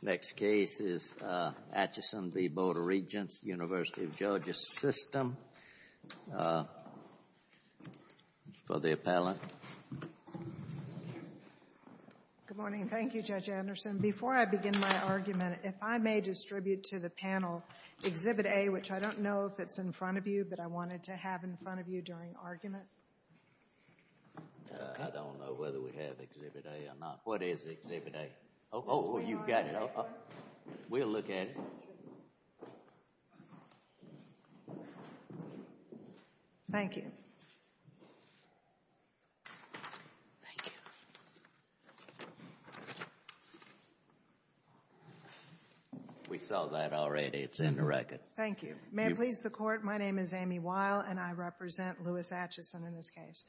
The next case is Atchison v. Board of Regents, University of Georgia System, for the appellant. Good morning. Thank you, Judge Anderson. Before I begin my argument, if I may distribute to the panel Exhibit A, which I don't know if it's in front of you, but I wanted to have in front of you during argument. I don't know whether we have Exhibit A or not. What is Exhibit A? Oh, you've got it. We'll look at it. Thank you. Thank you. We saw that already. It's in the record. Thank you. May it please the Court, my name is Amy Weil, and I represent Louis Atchison in this case.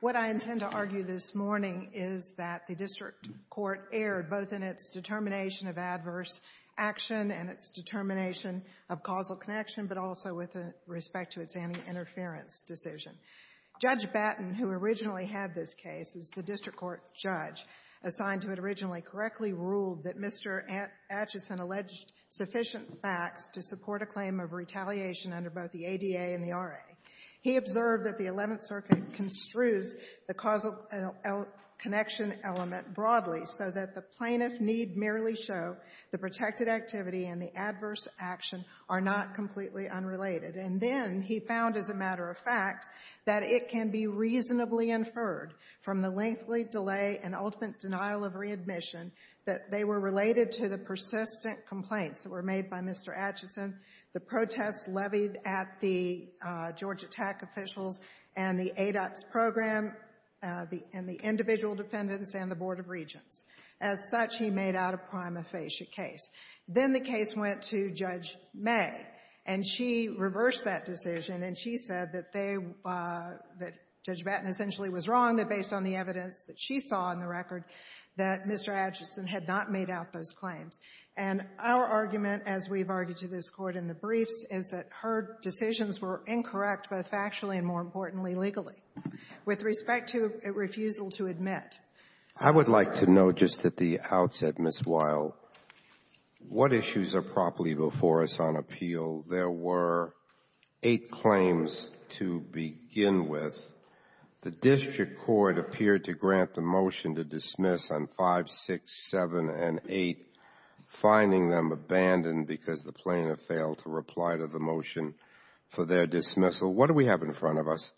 What I intend to argue this morning is that the district court erred, both in its determination of adverse action and its determination of causal connection, but also with respect to its anti-interference decision. Judge Batten, who originally had this case as the district court judge assigned to it originally, correctly ruled that Mr. Atchison alleged sufficient facts to support a claim of retaliation under both the ADA and the RA. He observed that the Eleventh Circuit construes the causal connection element broadly so that the plaintiff need merely show the protected activity and the adverse action are not completely unrelated. And then he found, as a matter of fact, that it can be reasonably inferred from the lengthy delay and ultimate denial of readmission that they were related to the persistent complaints that were made by Mr. Atchison, the protests levied at the Georgia TAC officials and the ADOTS program and the individual defendants and the Board of Regents. As such, he made out a prima facie case. Then the case went to Judge May, and she reversed that decision, and she said that they — that Judge Batten essentially was wrong, that based on the evidence that she saw in the record, that Mr. Atchison had not made out those claims. And our argument, as we've argued to this Court in the briefs, is that her decisions were incorrect, both factually and, more importantly, legally, with respect to a refusal to admit. I would like to note just at the outset, Ms. Weil, what issues are properly before us on appeal? There were eight claims to begin with. The district court appeared to grant the motion to dismiss on 5, 6, 7, and 8, finding them abandoned because the plaintiff failed to reply to the motion for their dismissal. What do we have in front of us?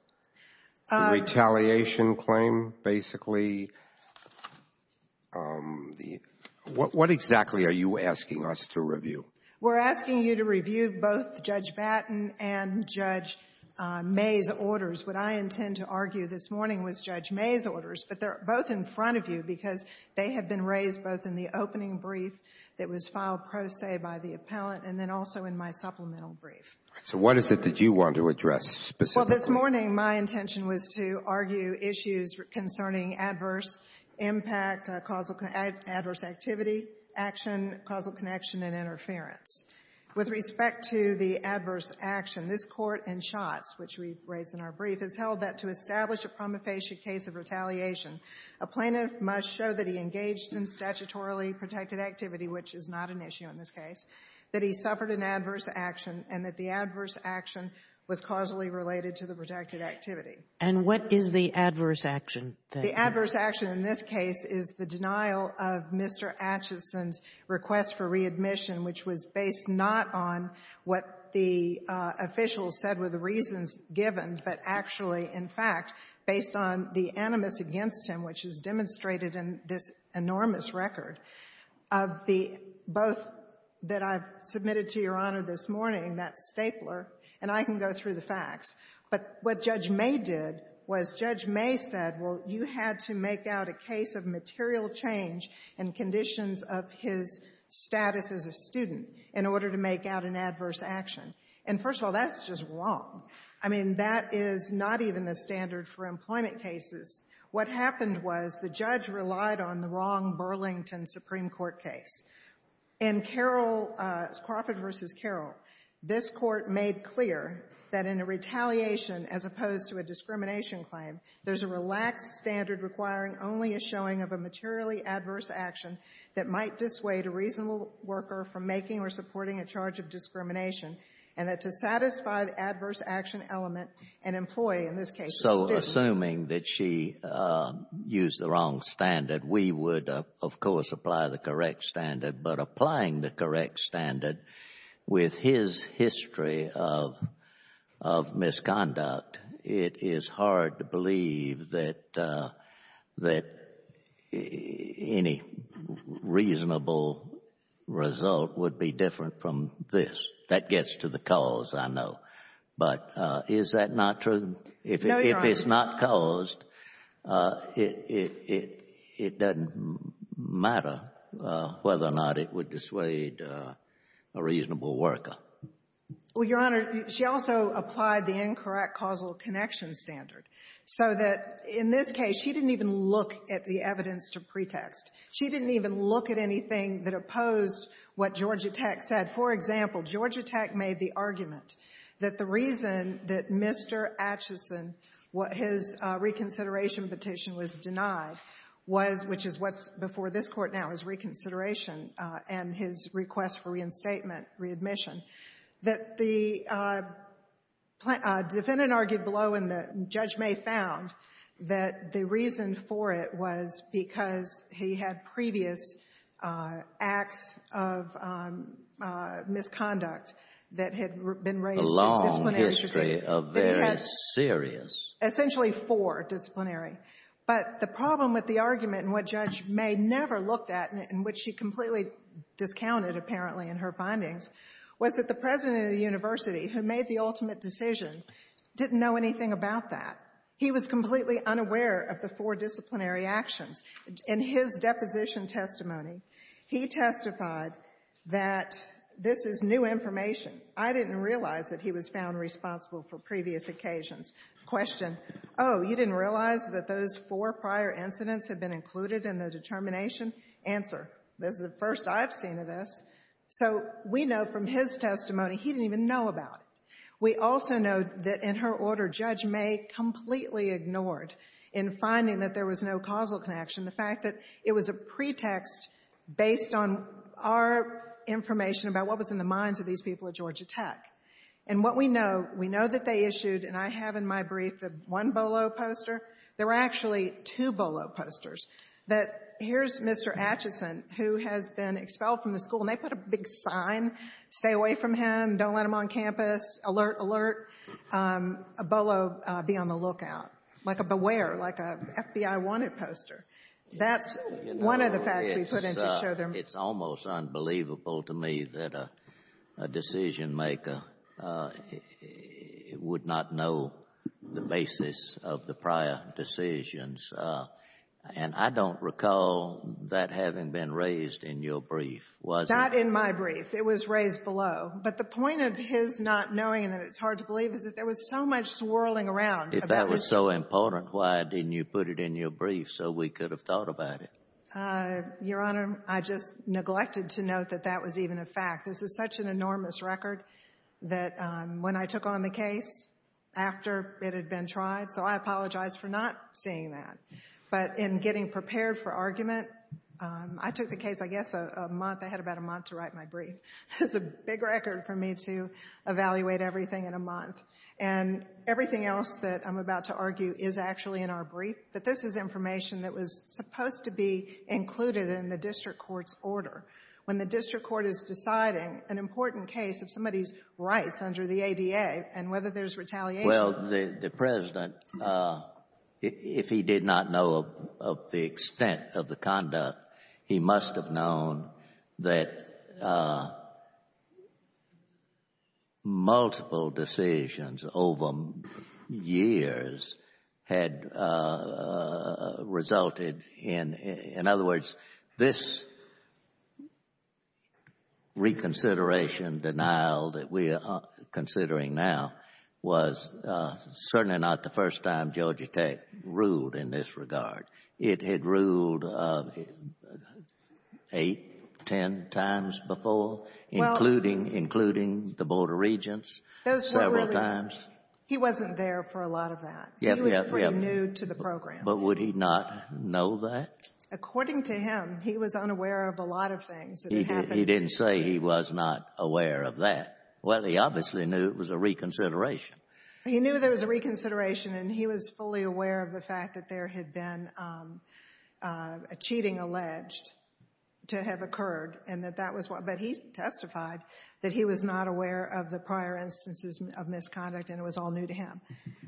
The retaliation claim, basically. What exactly are you asking us to review? We're asking you to review both Judge Batten and Judge May's orders. What I intend to argue this morning was Judge May's orders, but they're both in front of you because they have been raised both in the opening brief that was filed pro se by the appellant and then also in my supplemental brief. All right. So what is it that you want to address specifically? Well, this morning, my intention was to argue issues concerning adverse impact, adverse activity, action, causal connection, and interference. With respect to the adverse action, this Court, in Schatz, which we raised in our brief, has held that to establish a promulgation case of retaliation, a plaintiff must show that he engaged in statutorily protected activity, which is not an issue in this case, that he suffered an adverse action, and that the adverse action was causally related to the protected activity. And what is the adverse action? The adverse action in this case is the denial of Mr. Atchison's request for readmission, which was based not on what the officials said were the reasons given, but actually, in fact, based on the animus against him, which is demonstrated in this enormous record of the both that I've submitted to Your Honor this morning, that stapler. And I can go through the facts. But what Judge May did was Judge May said, well, you had to make out a case of material change and conditions of his status as a student in order to make out an adverse action. And, first of all, that's just wrong. I mean, that is not even the standard for employment cases. What happened was the judge relied on the wrong Burlington Supreme Court case. In Carroll, Crawford v. Carroll, this Court made clear that in a retaliation as opposed to a discrimination claim, there's a relaxed standard requiring only a showing of a materially adverse action that might dissuade a reasonable worker from making or supporting a charge of discrimination, and that to satisfy the adverse action element, an employee, in this case a student. So assuming that she used the wrong standard, we would, of course, apply the correct standard. But applying the correct standard with his history of misconduct, it is hard to believe that any reasonable result would be different from this. That gets to the cause, I know. But is that not true? No, Your Honor. If it's not caused, it doesn't matter whether or not it would dissuade a reasonable worker. Well, Your Honor, she also applied the incorrect causal connection standard so that in this case she didn't even look at the evidence to pretext. She didn't even look at anything that opposed what Georgia Tech said. For example, Georgia Tech made the argument that the reason that Mr. Acheson, what his reconsideration petition was denied, was, which is what's before this Court now is reconsideration and his request for reinstatement, readmission, that the defendant argued below and the judge may have found that the reason for it was because he had previous acts of misconduct that had been raised in disciplinary scrutiny. A long history of very serious. Essentially four disciplinary. But the problem with the argument and what Judge May never looked at, in which she completely discounted apparently in her findings, was that the president of the university who made the ultimate decision didn't know anything about that. He was completely unaware of the four disciplinary actions. In his deposition testimony, he testified that this is new information. I didn't realize that he was found responsible for previous occasions. Question, oh, you didn't realize that those four prior incidents had been included in the determination? Answer, this is the first I've seen of this. So we know from his testimony he didn't even know about it. We also know that in her order, Judge May completely ignored, in finding that there was no causal connection, the fact that it was a pretext based on our information about what was in the minds of these people at Georgia Tech. And what we know, we know that they issued, and I have in my brief the one Bolo poster. There were actually two Bolo posters. That here's Mr. Atchison, who has been expelled from the school, and they put a big sign, stay away from him, don't let him on campus. Alert, alert. Bolo, be on the lookout. Like a beware, like a FBI wanted poster. That's one of the facts we put in to show them. It's almost unbelievable to me that a decisionmaker would not know the basis of the prior decisions. And I don't recall that having been raised in your brief, was it? Not in my brief. It was raised below. But the point of his not knowing and that it's hard to believe is that there was so much swirling around. If that was so important, why didn't you put it in your brief so we could have thought about it? Your Honor, I just neglected to note that that was even a fact. This is such an enormous record that when I took on the case, after it had been tried, so I apologize for not seeing that. But in getting prepared for argument, I took the case, I guess, a month. I had about a month to write my brief. It's a big record for me to evaluate everything in a month. And everything else that I'm about to argue is actually in our brief. But this is information that was supposed to be included in the district court's order. When the district court is deciding an important case of somebody's rights under the ADA and whether there's retaliation. Well, the President, if he did not know of the extent of the conduct, he must have known that multiple decisions over years had resulted in, in other words, this reconsideration denial that we are considering now was certainly not the first time Georgia Tech ruled in this regard. It had ruled eight, ten times before, including the Board of Regents several times. He wasn't there for a lot of that. He was pretty new to the program. But would he not know that? According to him, he was unaware of a lot of things that had happened. He didn't say he was not aware of that. Well, he obviously knew it was a reconsideration. He knew there was a reconsideration and he was fully aware of the fact that there had been a cheating alleged to have occurred and that that was why. But he testified that he was not aware of the prior instances of misconduct and it was all new to him.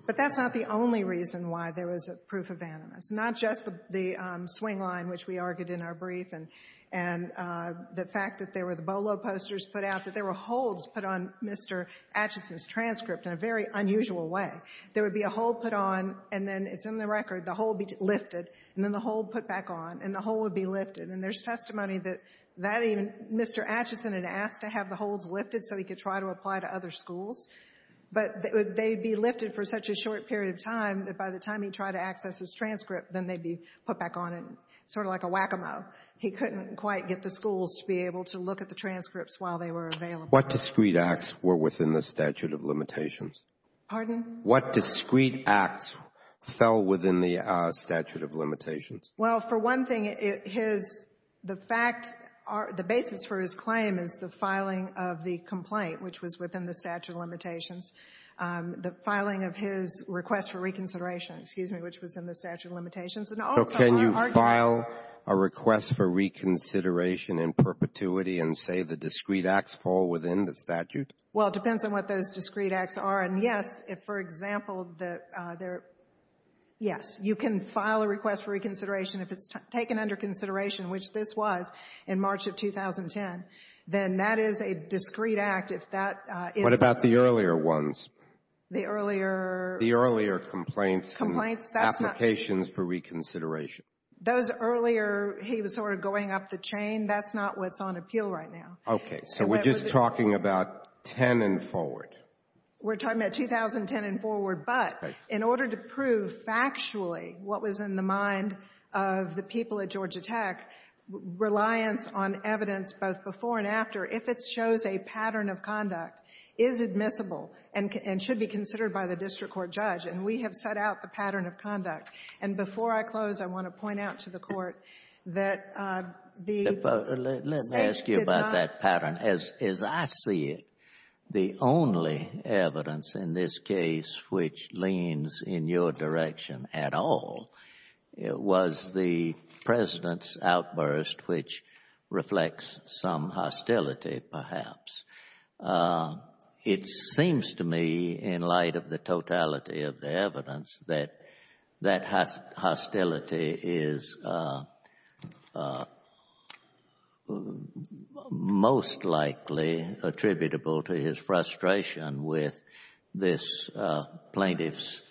But that's not the only reason why there was a proof of animus, not just the swing line, which we argued in our brief, and the fact that there were the Bolo posters put out, that there were holds put on Mr. Atchison's transcript in a very unusual way. There would be a hold put on and then, it's in the record, the hold would be lifted and then the hold put back on and the hold would be lifted. And there's testimony that that even Mr. Atchison had asked to have the holds lifted so he could try to apply to other schools. But they would be lifted for such a short period of time that by the time he tried to access his transcript, then they'd be put back on in sort of like a whack-a-mo. He couldn't quite get the schools to be able to look at the transcripts while they What discrete acts were within the statute of limitations? Pardon? What discrete acts fell within the statute of limitations? Well, for one thing, his — the fact — the basis for his claim is the filing of the complaint, which was within the statute of limitations. The filing of his request for reconsideration, excuse me, which was in the statute of limitations. So can you file a request for reconsideration in perpetuity and say the discrete acts fall within the statute? Well, it depends on what those discrete acts are. And, yes, if, for example, the — yes, you can file a request for reconsideration if it's taken under consideration, which this was in March of 2010. Then that is a discrete act. If that is — What about the earlier ones? The earlier — The earlier complaints and applications for reconsideration. Those earlier — he was sort of going up the chain. That's not what's on appeal right now. Okay. So we're just talking about 10 and forward. We're talking about 2010 and forward. But in order to prove factually what was in the mind of the people at Georgia Tech, reliance on evidence both before and after, if it shows a pattern of conduct, is admissible and should be considered by the district court judge. And we have set out the pattern of conduct. And before I close, I want to point out to the Court that the — Let me ask you about that pattern. As I see it, the only evidence in this case which leans in your direction at all was the President's outburst, which reflects some hostility, perhaps. It seems to me, in light of the totality of the evidence, that that hostility is most likely attributable to his frustration with this plaintiff's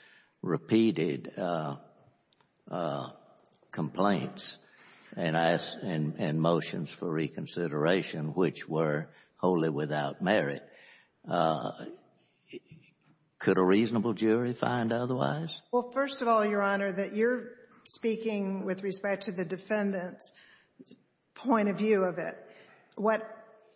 Could a reasonable jury find otherwise? Well, first of all, Your Honor, that you're speaking with respect to the defendant's point of view of it. What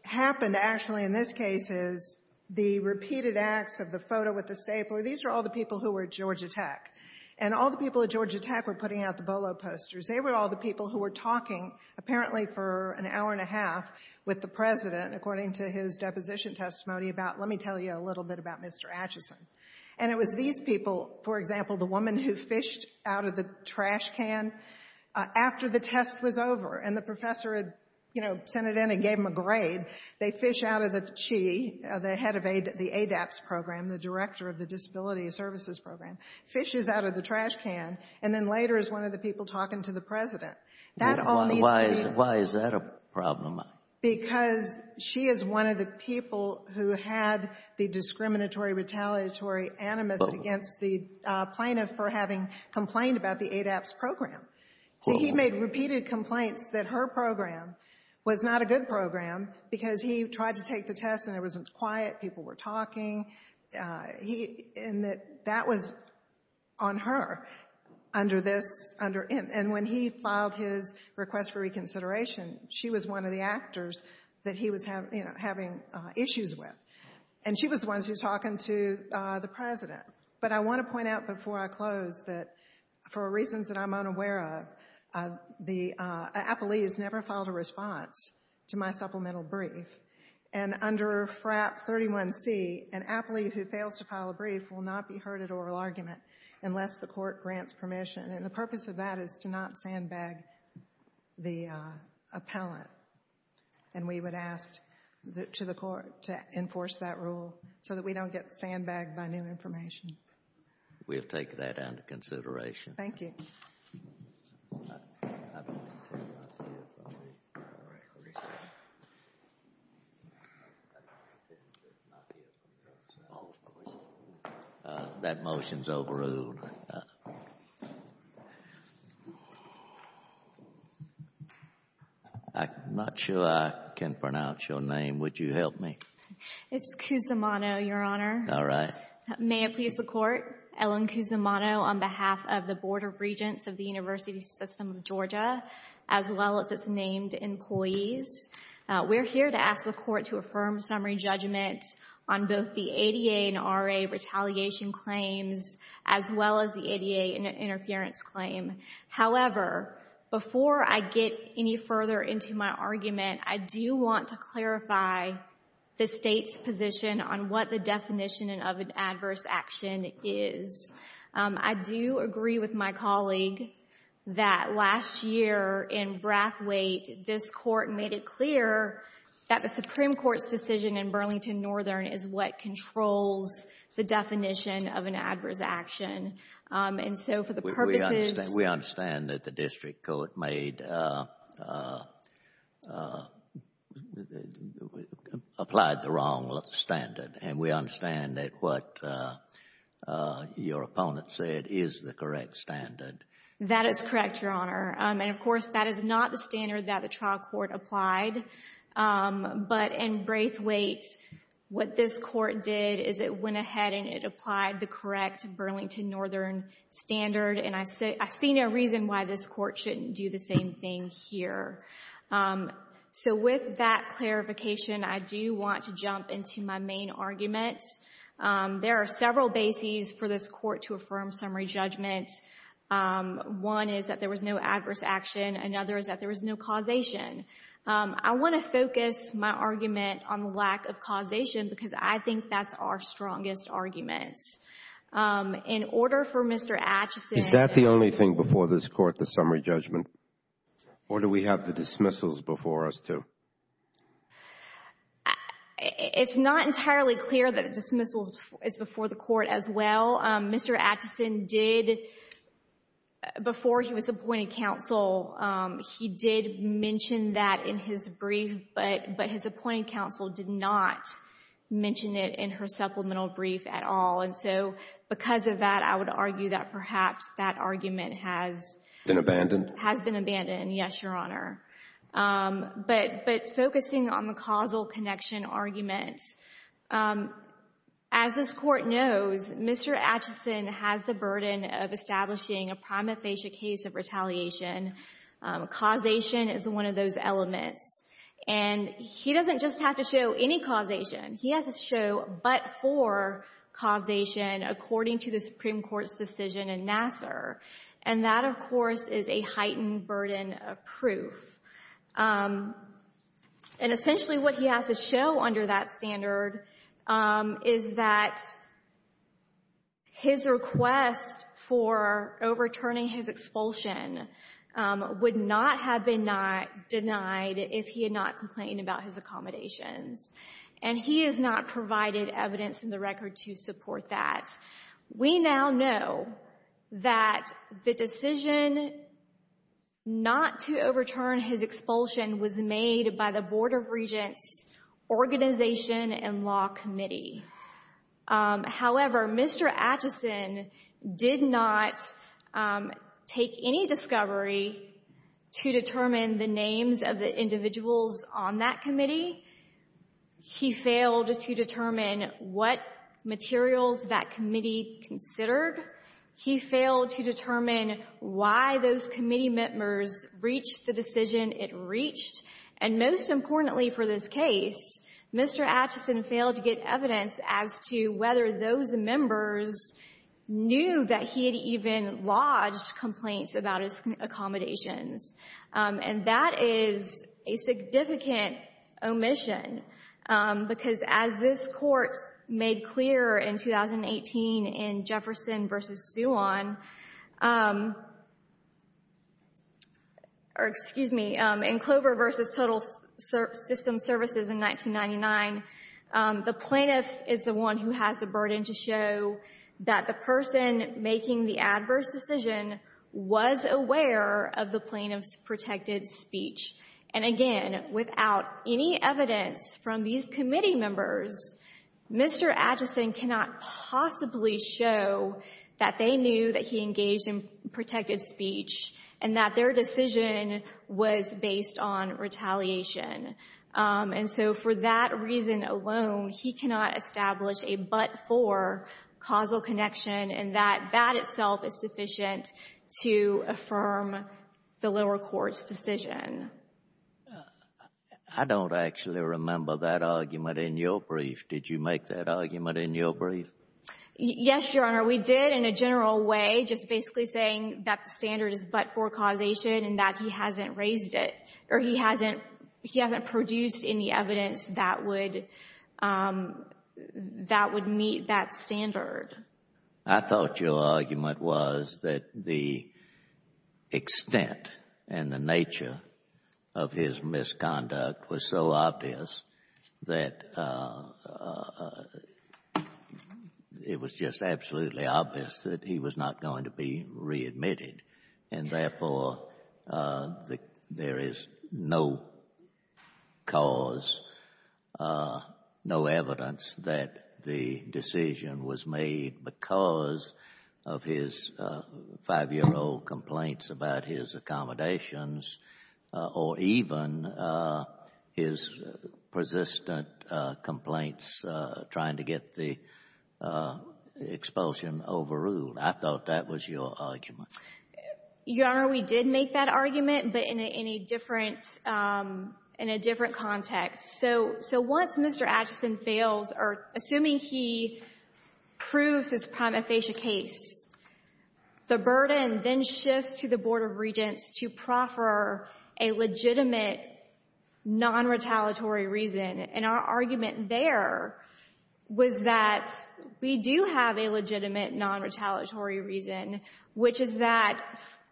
happened, actually, in this case is the repeated acts of the photo with the stapler, these were all the people who were at Georgia Tech. And all the people at Georgia Tech were putting out the Bolo posters. They were all the people who were talking, apparently for an hour and a half, with the President, according to his deposition testimony, about, let me tell you a little bit about Mr. Atchison. And it was these people, for example, the woman who fished out of the trash can after the test was over, and the professor had, you know, sent it in and gave him a grade. They fish out of the CHI, the head of the ADAPTS program, the director of the Disability Services Program, fishes out of the trash can, and then later is one of the people talking to the President. Why is that a problem? Because she is one of the people who had the discriminatory, retaliatory animus against the plaintiff for having complained about the ADAPTS program. See, he made repeated complaints that her program was not a good program because he tried to take the test and it wasn't quiet, people were talking, and that that was on her under this. And when he filed his request for reconsideration, she was one of the actors that he was having issues with, and she was the one who was talking to the President. But I want to point out before I close that, for reasons that I'm unaware of, the appellees never filed a response to my supplemental brief. And under FRAP 31C, an applee who fails to file a brief will not be heard at oral argument unless the court grants permission. And the purpose of that is to not sandbag the appellant. And we would ask to the court to enforce that rule so that we don't get sandbagged by new information. We'll take that under consideration. Thank you. That motion is overruled. I'm not sure I can pronounce your name. Would you help me? It's Cusimano, Your Honor. All right. May it please the Court, Ellen Cusimano, on behalf of the Board of Regents of the University System of Georgia, as well as its named employees. We're here to ask the Court to affirm summary judgment on both the ADA and RA retaliation claims, as well as the ADA interference claim. However, before I get any further into my argument, I do want to clarify the State's position on what the definition of an adverse action is. I do agree with my colleague that last year in Brathwaite, this Court made it clear that the Supreme Court's decision in Burlington Northern is what controls the definition of an adverse action. We understand that the district court applied the wrong standard. And we understand that what your opponent said is the correct standard. That is correct, Your Honor. And, of course, that is not the standard that the trial court applied. But in Brathwaite, what this court did is it went ahead and it applied the correct Burlington Northern standard. And I see no reason why this Court shouldn't do the same thing here. So with that clarification, I do want to jump into my main arguments. There are several bases for this Court to affirm summary judgment. One is that there was no adverse action. Another is that there was no causation. I want to focus my argument on the lack of causation because I think that's our strongest argument. In order for Mr. Atchison— Is that the only thing before this Court, the summary judgment? Or do we have the dismissals before us too? It's not entirely clear that dismissals is before the Court as well. Mr. Atchison did, before he was appointed counsel, he did mention that in his brief, but his appointed counsel did not mention it in her supplemental brief at all. And so because of that, I would argue that perhaps that argument has— Been abandoned? Has been abandoned, yes, Your Honor. But focusing on the causal connection argument, as this Court knows, Mr. Atchison has the burden of establishing a prima facie case of retaliation. Causation is one of those elements. And he doesn't just have to show any causation. He has to show but for causation according to the Supreme Court's decision in Nassar. And that, of course, is a heightened burden of proof. And essentially what he has to show under that standard is that his request for overturning his expulsion would not have been denied if he had not complained about his accommodations. And he has not provided evidence in the record to support that. We now know that the decision not to overturn his expulsion was made by the Board of Regents Organization and Law Committee. However, Mr. Atchison did not take any discovery to determine the names of the individuals on that committee. He failed to determine what materials that committee considered. He failed to determine why those committee members reached the decision it reached. And most importantly for this case, Mr. Atchison failed to get evidence as to whether those members knew that he had even lodged complaints about his accommodations. And that is a significant omission, because as this Court made clear in 2018 in Jefferson v. Suon, or excuse me, in Clover v. Total System Services in 1999, the plaintiff is the one who has the burden to show that the person making the adverse decision was aware of the plaintiff's protected speech. And again, without any evidence from these committee members, Mr. Atchison cannot possibly show that they knew that he engaged in protected speech and that their decision was based on retaliation. And so for that reason alone, he cannot establish a but-for causal connection and that that itself is sufficient to affirm the lower court's decision. I don't actually remember that argument in your brief. Did you make that argument in your brief? Yes, Your Honor, we did in a general way, just basically saying that the standard is but-for causation and that he hasn't raised it or he hasn't produced any evidence that would meet that standard. I thought your argument was that the extent and the nature of his misconduct was so obvious that it was just absolutely obvious that he was not going to be readmitted and therefore there is no cause, no evidence that the decision was made because of his 5-year-old complaints about his accommodations or even his persistent complaints trying to get the expulsion overruled. I thought that was your argument. Your Honor, we did make that argument, but in a different context. So once Mr. Atchison fails or assuming he proves his prima facie case, the burden then shifts to the Board of Regents to proffer a legitimate nonretaliatory reason, and our argument there was that we do have a legitimate nonretaliatory reason, which is that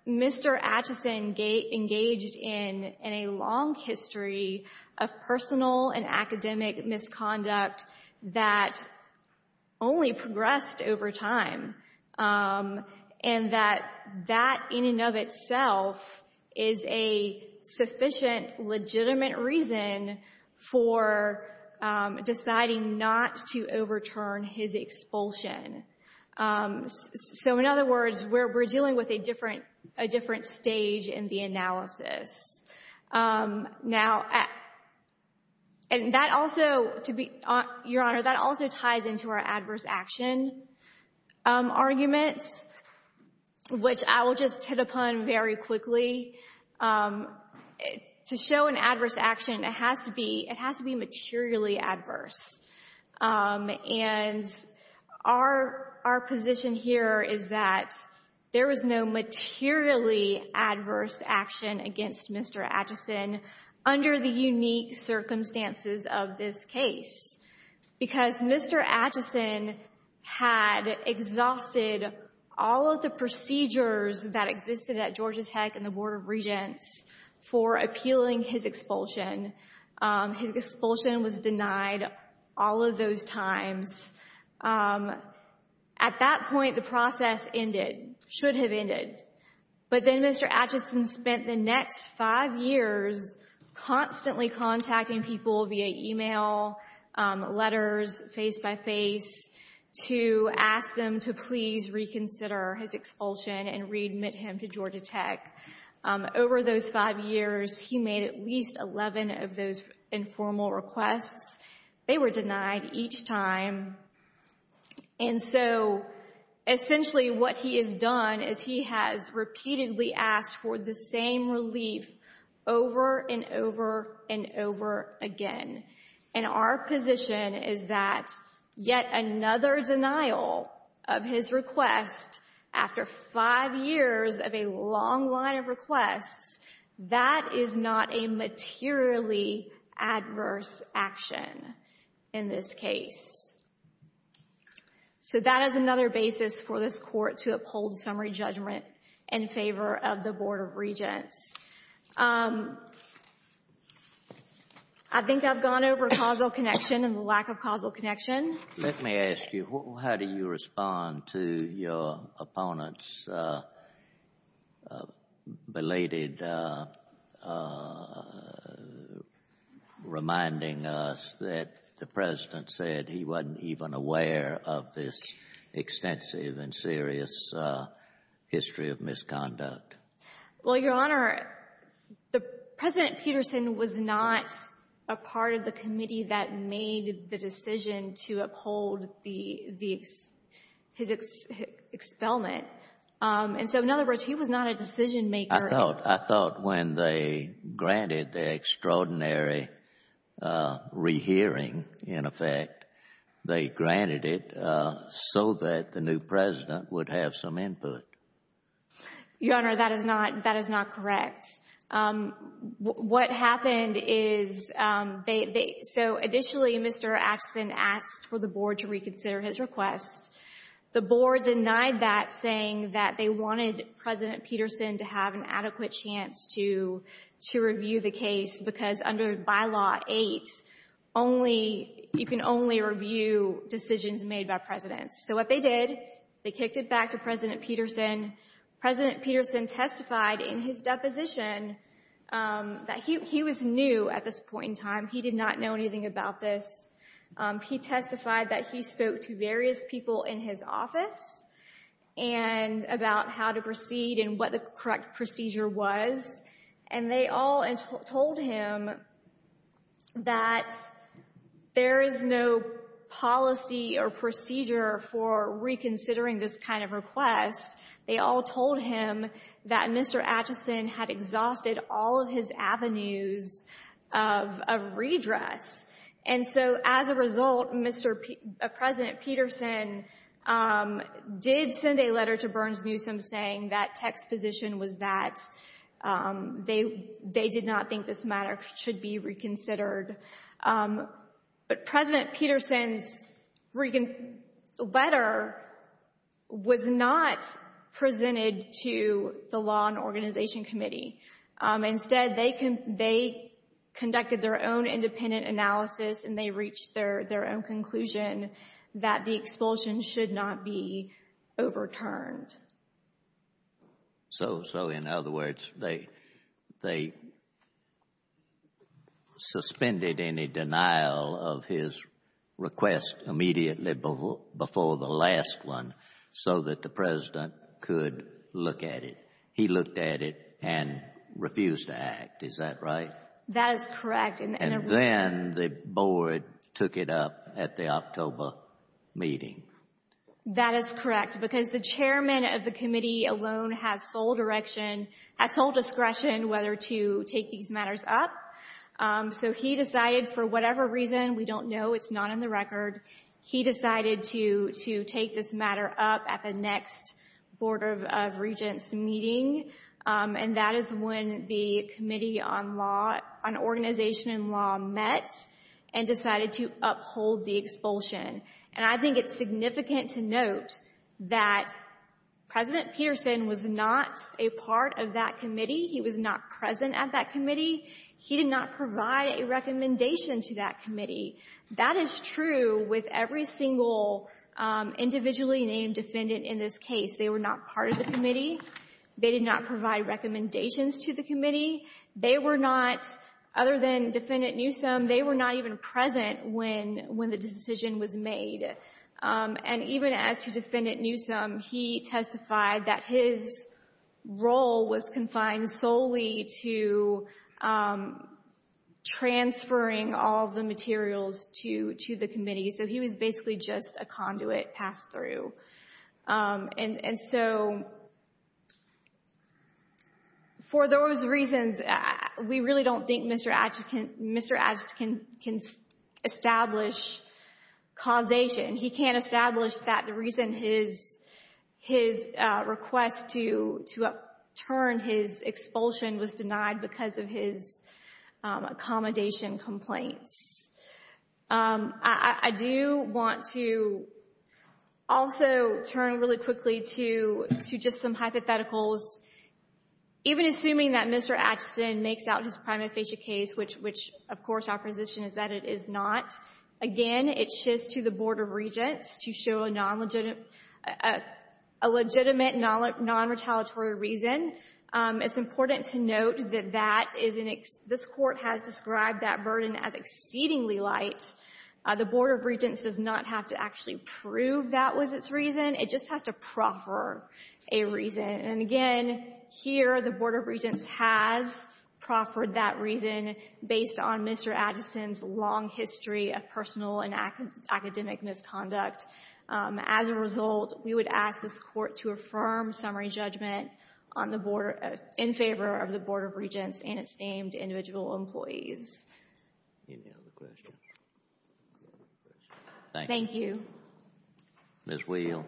Mr. Atchison engaged in a long history of personal and academic misconduct that only progressed over time and that that in and of itself is a sufficient, legitimate reason for deciding not to overturn his expulsion. So in other words, we're dealing with a different stage in the analysis. Now, and that also, your Honor, that also ties into our adverse action argument, which I will just hit upon very quickly. To show an adverse action, it has to be materially adverse. And our position here is that there was no materially adverse action against Mr. Atchison under the unique circumstances of this case because Mr. Atchison had exhausted all of the procedures that existed at Georgia Tech and the Board of Regents for appealing his expulsion. His expulsion was denied all of those times. At that point, the process ended, should have ended. But then Mr. Atchison spent the next five years constantly contacting people via email, letters, face-by-face, to ask them to please reconsider his expulsion and readmit him to Georgia Tech. Over those five years, he made at least 11 of those informal requests. They were denied each time. And so essentially what he has done is he has repeatedly asked for the same relief over and over and over again. And our position is that yet another denial of his request after five years of a long line of requests, that is not a materially adverse action in this case. So that is another basis for this Court to uphold summary judgment in favor of the Board of Regents. I think I've gone over causal connection and the lack of causal connection. Let me ask you, how do you respond to your opponent's belated reminding us that the President said he wasn't even aware of this extensive and serious history of misconduct? Well, Your Honor, President Peterson was not a part of the committee that made the decision to uphold his expelment. And so, in other words, he was not a decision-maker. I thought when they granted the extraordinary rehearing, in effect, they granted it so that the new President would have some input. Your Honor, that is not correct. What happened is they — so, additionally, Mr. Axton asked for the Board to reconsider his request. The Board denied that, saying that they wanted President Peterson to have an adequate chance to review the case because under Bylaw 8, only — you can only review decisions made by Presidents. So what they did, they kicked it back to President Peterson. President Peterson testified in his deposition that he was new at this point in time. He did not know anything about this. He testified that he spoke to various people in his office about how to proceed and what the correct procedure was. And they all told him that there is no policy or procedure for reconsidering this kind of request. They all told him that Mr. Axton had exhausted all of his avenues of redress. And so, as a result, Mr. — President Peterson did send a letter to Burns-Newsom saying that tech's position was that they did not think this matter should be reconsidered. But President Peterson's letter was not presented to the Law and Organization Committee. Instead, they conducted their own independent analysis and they reached their own conclusion that the expulsion should not be overturned. So, in other words, they suspended any denial of his request immediately before the last one so that the President could look at it. He looked at it and refused to act. Is that right? That is correct. And then the board took it up at the October meeting. That is correct. Because the chairman of the committee alone has sole direction — has sole discretion whether to take these matters up. So he decided, for whatever reason — we don't know, it's not in the record — he decided to take this matter up at the next Board of Regents meeting. And that is when the Committee on Law — on Organization and Law met and decided to uphold the expulsion. And I think it's significant to note that President Peterson was not a part of that committee. He was not present at that committee. He did not provide a recommendation to that committee. That is true with every single individually named defendant in this case. They were not part of the committee. They did not provide recommendations to the committee. They were not, other than Defendant Newsom, they were not even present when the decision was made. And even as to Defendant Newsom, he testified that his role was confined solely to transferring all the materials to the committee. So he was basically just a conduit pass-through. And so, for those reasons, we really don't think Mr. Atchis can establish causation. He can't establish that the reason his request to upturn his expulsion was denied because of his accommodation complaints. I do want to also turn really quickly to just some hypotheticals. Even assuming that Mr. Atchison makes out his prima facie case, which, of course, our position is that it is not, again, it shifts to the Board of Regents to show a legitimate non-retaliatory reason. It's important to note that this Court has described that burden as exceedingly light. The Board of Regents does not have to actually prove that was its reason. It just has to proffer a reason. And again, here the Board of Regents has proffered that reason based on Mr. Atchison's long history of personal and academic misconduct. As a result, we would ask this Court to affirm summary judgment in favor of the Board of Regents and its named individual employees. Any other questions? Thank you. Ms. Wheel.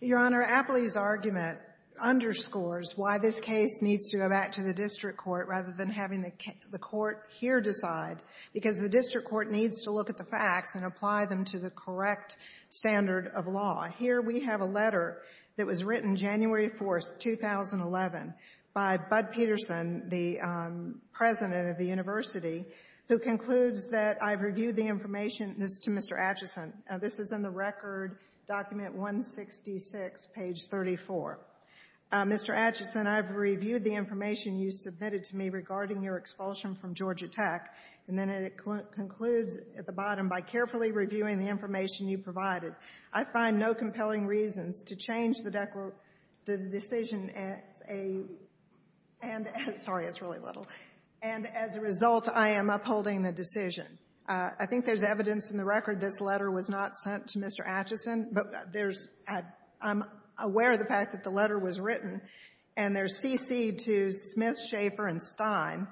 Your Honor, Apley's argument underscores why this case needs to go back to the district court rather than having the court here decide, because the district court needs to look at the facts and apply them to the correct standard of law. Here we have a letter that was written January 4th, 2011, by Bud Peterson, the president of the university, who concludes that I've reviewed the information. This is to Mr. Atchison. This is in the record, document 166, page 34. Mr. Atchison, I've reviewed the information you submitted to me regarding your expulsion from Georgia Tech. And then it concludes at the bottom, by carefully reviewing the information you provided, I find no compelling reasons to change the decision as a — sorry, it's really little. And as a result, I am upholding the decision. I think there's evidence in the record this letter was not sent to Mr. Atchison, but there's — I'm aware of the fact that the letter was written. And there's cc'd to Smith, Schaffer, and Stein,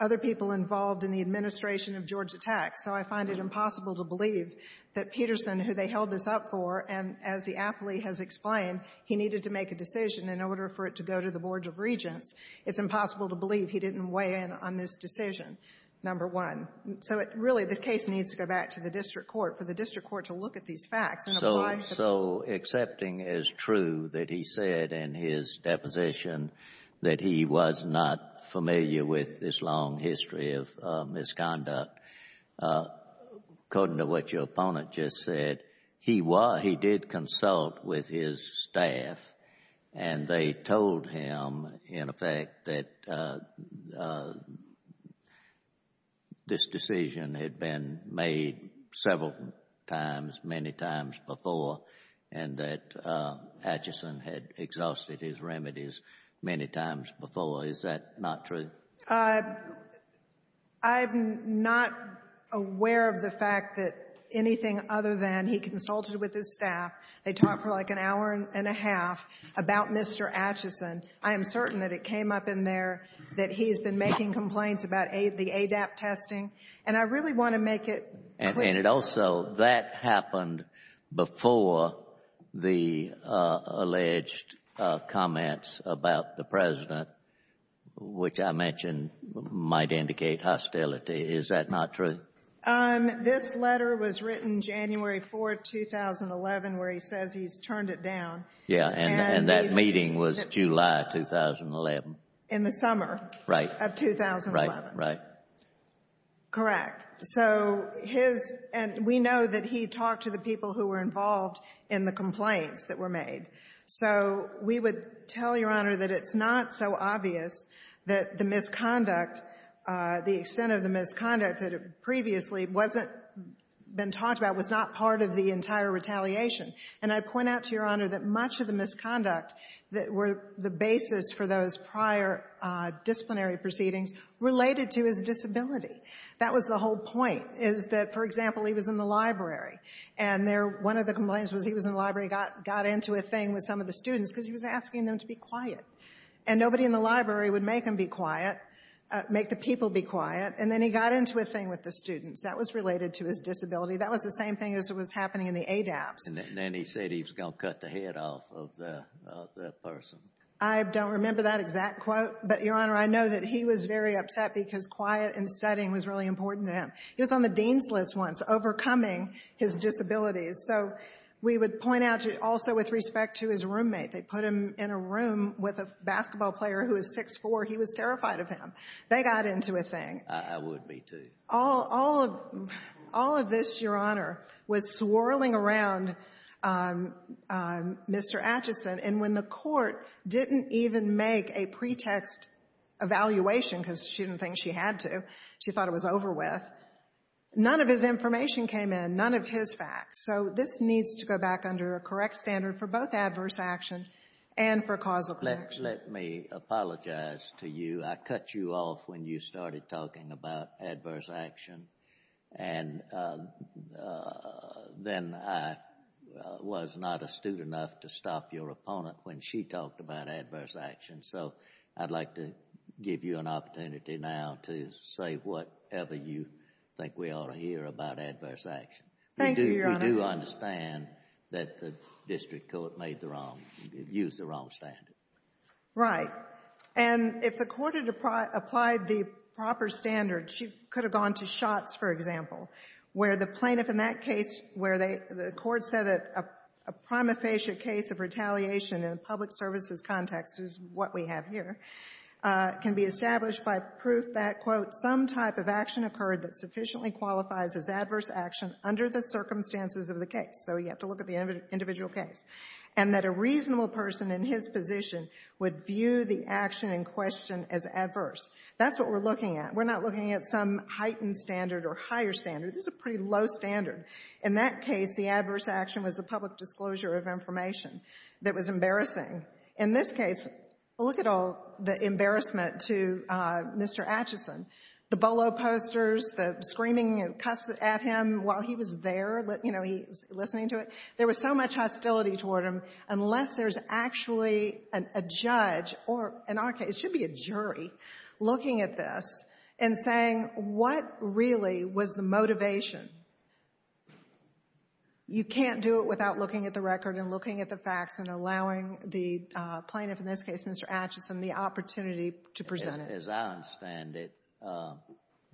other people involved in the administration of Georgia Tech. So I find it impossible to believe that Peterson, who they held this up for, and as the Apley has explained, he needed to make a decision in order for it to go to the Board of Regents. It's impossible to believe he didn't weigh in on this decision, number one. So, really, this case needs to go back to the district court, for the district court to look at these facts and apply — So accepting as true that he said in his deposition that he was not familiar with this long history of misconduct, according to what your opponent just said, he was — he did consult with his staff. And they told him, in effect, that this decision had been made several times, many times before, and that Atchison had exhausted his remedies many times before. Is that not true? I'm not aware of the fact that anything other than he consulted with his staff. They talked for like an hour and a half about Mr. Atchison. I am certain that it came up in there that he's been making complaints about the ADAP testing. And I really want to make it clear — And it also — that happened before the alleged comments about the President, which I mentioned might indicate hostility. Is that not true? This letter was written January 4, 2011, where he says he's turned it down. Yeah. And that meeting was July 2011. In the summer. Right. Of 2011. Right, right. Correct. So his — and we know that he talked to the people who were involved in the complaints that were made. So we would tell Your Honor that it's not so obvious that the misconduct, the extent of the misconduct that had previously wasn't been talked about, was not part of the entire retaliation. And I point out to Your Honor that much of the misconduct that were the basis for those prior disciplinary proceedings related to his disability. That was the whole point, is that, for example, he was in the library. And one of the complaints was he was in the library, got into a thing with some of the students because he was asking them to be quiet. And nobody in the library would make him be quiet, make the people be quiet. And then he got into a thing with the students. That was related to his disability. That was the same thing as what was happening in the ADAPTS. And then he said he was going to cut the head off of that person. I don't remember that exact quote, but, Your Honor, I know that he was very upset because quiet and studying was really important to him. He was on the dean's list once, overcoming his disabilities. So we would point out also with respect to his roommate. They put him in a room with a basketball player who was 6'4". He was terrified of him. They got into a thing. I would be, too. All of this, Your Honor, was swirling around Mr. Acheson. And when the Court didn't even make a pretext evaluation because she didn't think she had to, she thought it was over with, none of his information came in, none of his facts. So this needs to go back under a correct standard for both adverse action and for causal connection. Let me apologize to you. I cut you off when you started talking about adverse action. And then I was not astute enough to stop your opponent when she talked about adverse action. So I'd like to give you an opportunity now to say whatever you think we ought to hear about adverse action. Thank you, Your Honor. We do understand that the district court made the wrong, used the wrong standard. Right. And if the Court had applied the proper standard, she could have gone to shots, for example, where the plaintiff in that case, where the Court said that a prima facie case of retaliation in a public services context is what we have here, can be established by proof that, quote, some type of action occurred that sufficiently qualifies as adverse action under the circumstances of the case. So you have to look at the individual case. And that a reasonable person in his position would view the action in question as adverse. That's what we're looking at. We're not looking at some heightened standard or higher standard. This is a pretty low standard. In that case, the adverse action was a public disclosure of information that was embarrassing. In this case, look at all the embarrassment to Mr. Atchison, the bolo posters, the screaming and cussing at him while he was there, you know, he was listening to it. There was so much hostility toward him, unless there's actually a judge or, in our case, there should be a jury looking at this and saying, what really was the motivation? You can't do it without looking at the record and looking at the facts and allowing the plaintiff, in this case Mr. Atchison, the opportunity to present it. As I understand it,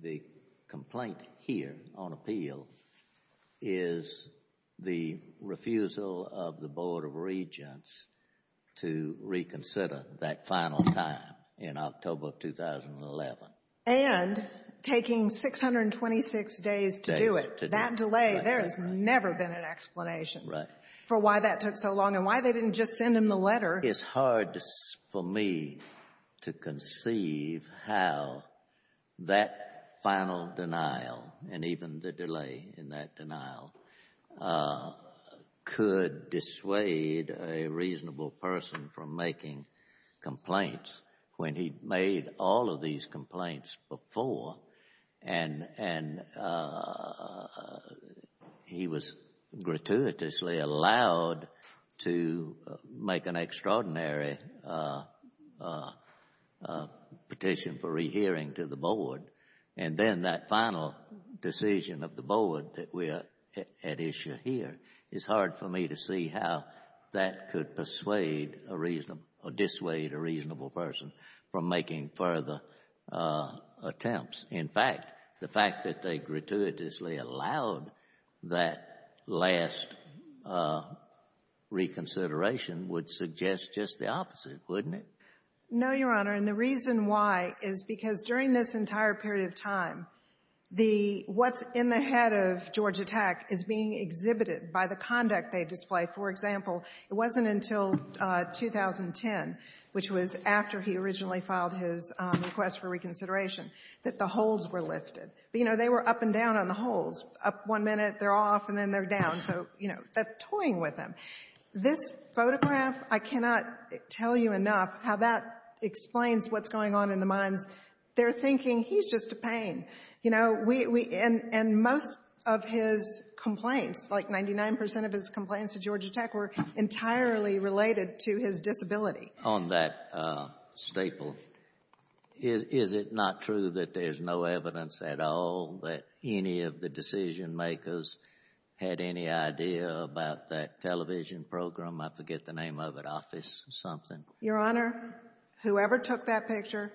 the complaint here on appeal is the refusal of the Board of Regents to reconsider that final time in October of 2011. And taking 626 days to do it. That delay, there has never been an explanation. Right. For why that took so long and why they didn't just send him the letter. It's hard for me to conceive how that final denial and even the delay in that denial could dissuade a reasonable person from making complaints when he made all of these complaints before. And he was gratuitously allowed to make an extraordinary petition for rehearing to the Board. And then that final decision of the Board that we are at issue here, it's hard for me to see how that could persuade or dissuade a reasonable person from making further attempts. In fact, the fact that they gratuitously allowed that last reconsideration would suggest just the opposite, wouldn't it? No, Your Honor. And the reason why is because during this entire period of time, what's in the head of Georgia Tech is being exhibited by the conduct they display. For example, it wasn't until 2010, which was after he originally filed his request for reconsideration, that the holds were lifted. But, you know, they were up and down on the holds. Up one minute, they're off, and then they're down. So, you know, they're toying with him. This photograph, I cannot tell you enough how that explains what's going on in the minds. They're thinking, he's just a pain. And most of his complaints, like 99% of his complaints to Georgia Tech, were entirely related to his disability. On that staple, is it not true that there's no evidence at all that any of the decision makers had any idea about that television program? I forget the name of it, Office something. Your Honor, whoever took that picture,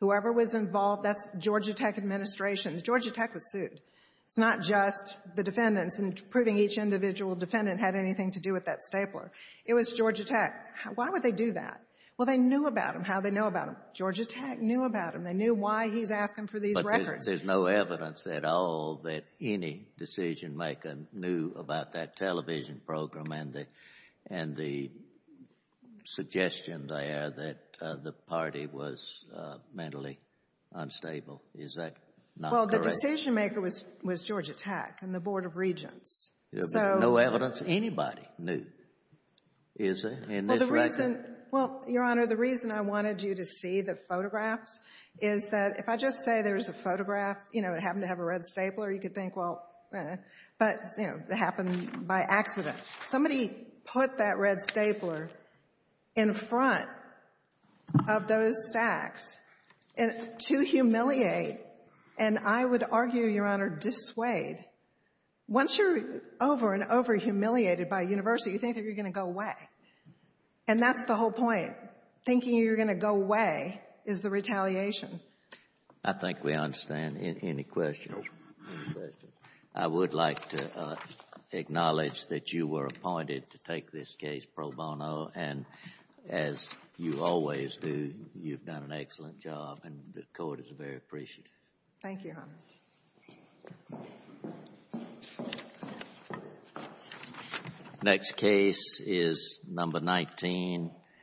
whoever was involved, that's Georgia Tech administration. Georgia Tech was sued. It's not just the defendants, and proving each individual defendant had anything to do with that stapler. It was Georgia Tech. Why would they do that? Well, they knew about him, how they knew about him. Georgia Tech knew about him. They knew why he's asking for these records. But there's no evidence at all that any decision maker knew about that television program and the suggestion there that the party was mentally unstable. Is that not correct? Well, the decision maker was Georgia Tech and the Board of Regents. There's no evidence anybody knew, is there, in this record? Well, Your Honor, the reason I wanted you to see the photographs is that if I just say there's a photograph, you know, it happened to have a red stapler, you could think, well, eh. But, you know, it happened by accident. Somebody put that red stapler in front of those stacks to humiliate and I would argue, Your Honor, dissuade. Once you're over and over humiliated by a university, you think that you're going to go away. And that's the whole point. Thinking you're going to go away is the retaliation. I think we understand. Any questions? I would like to acknowledge that you were appointed to take this case pro bono and as you always do, you've done an excellent job and the court is very appreciative. Thank you, Your Honor. Next case is number 19.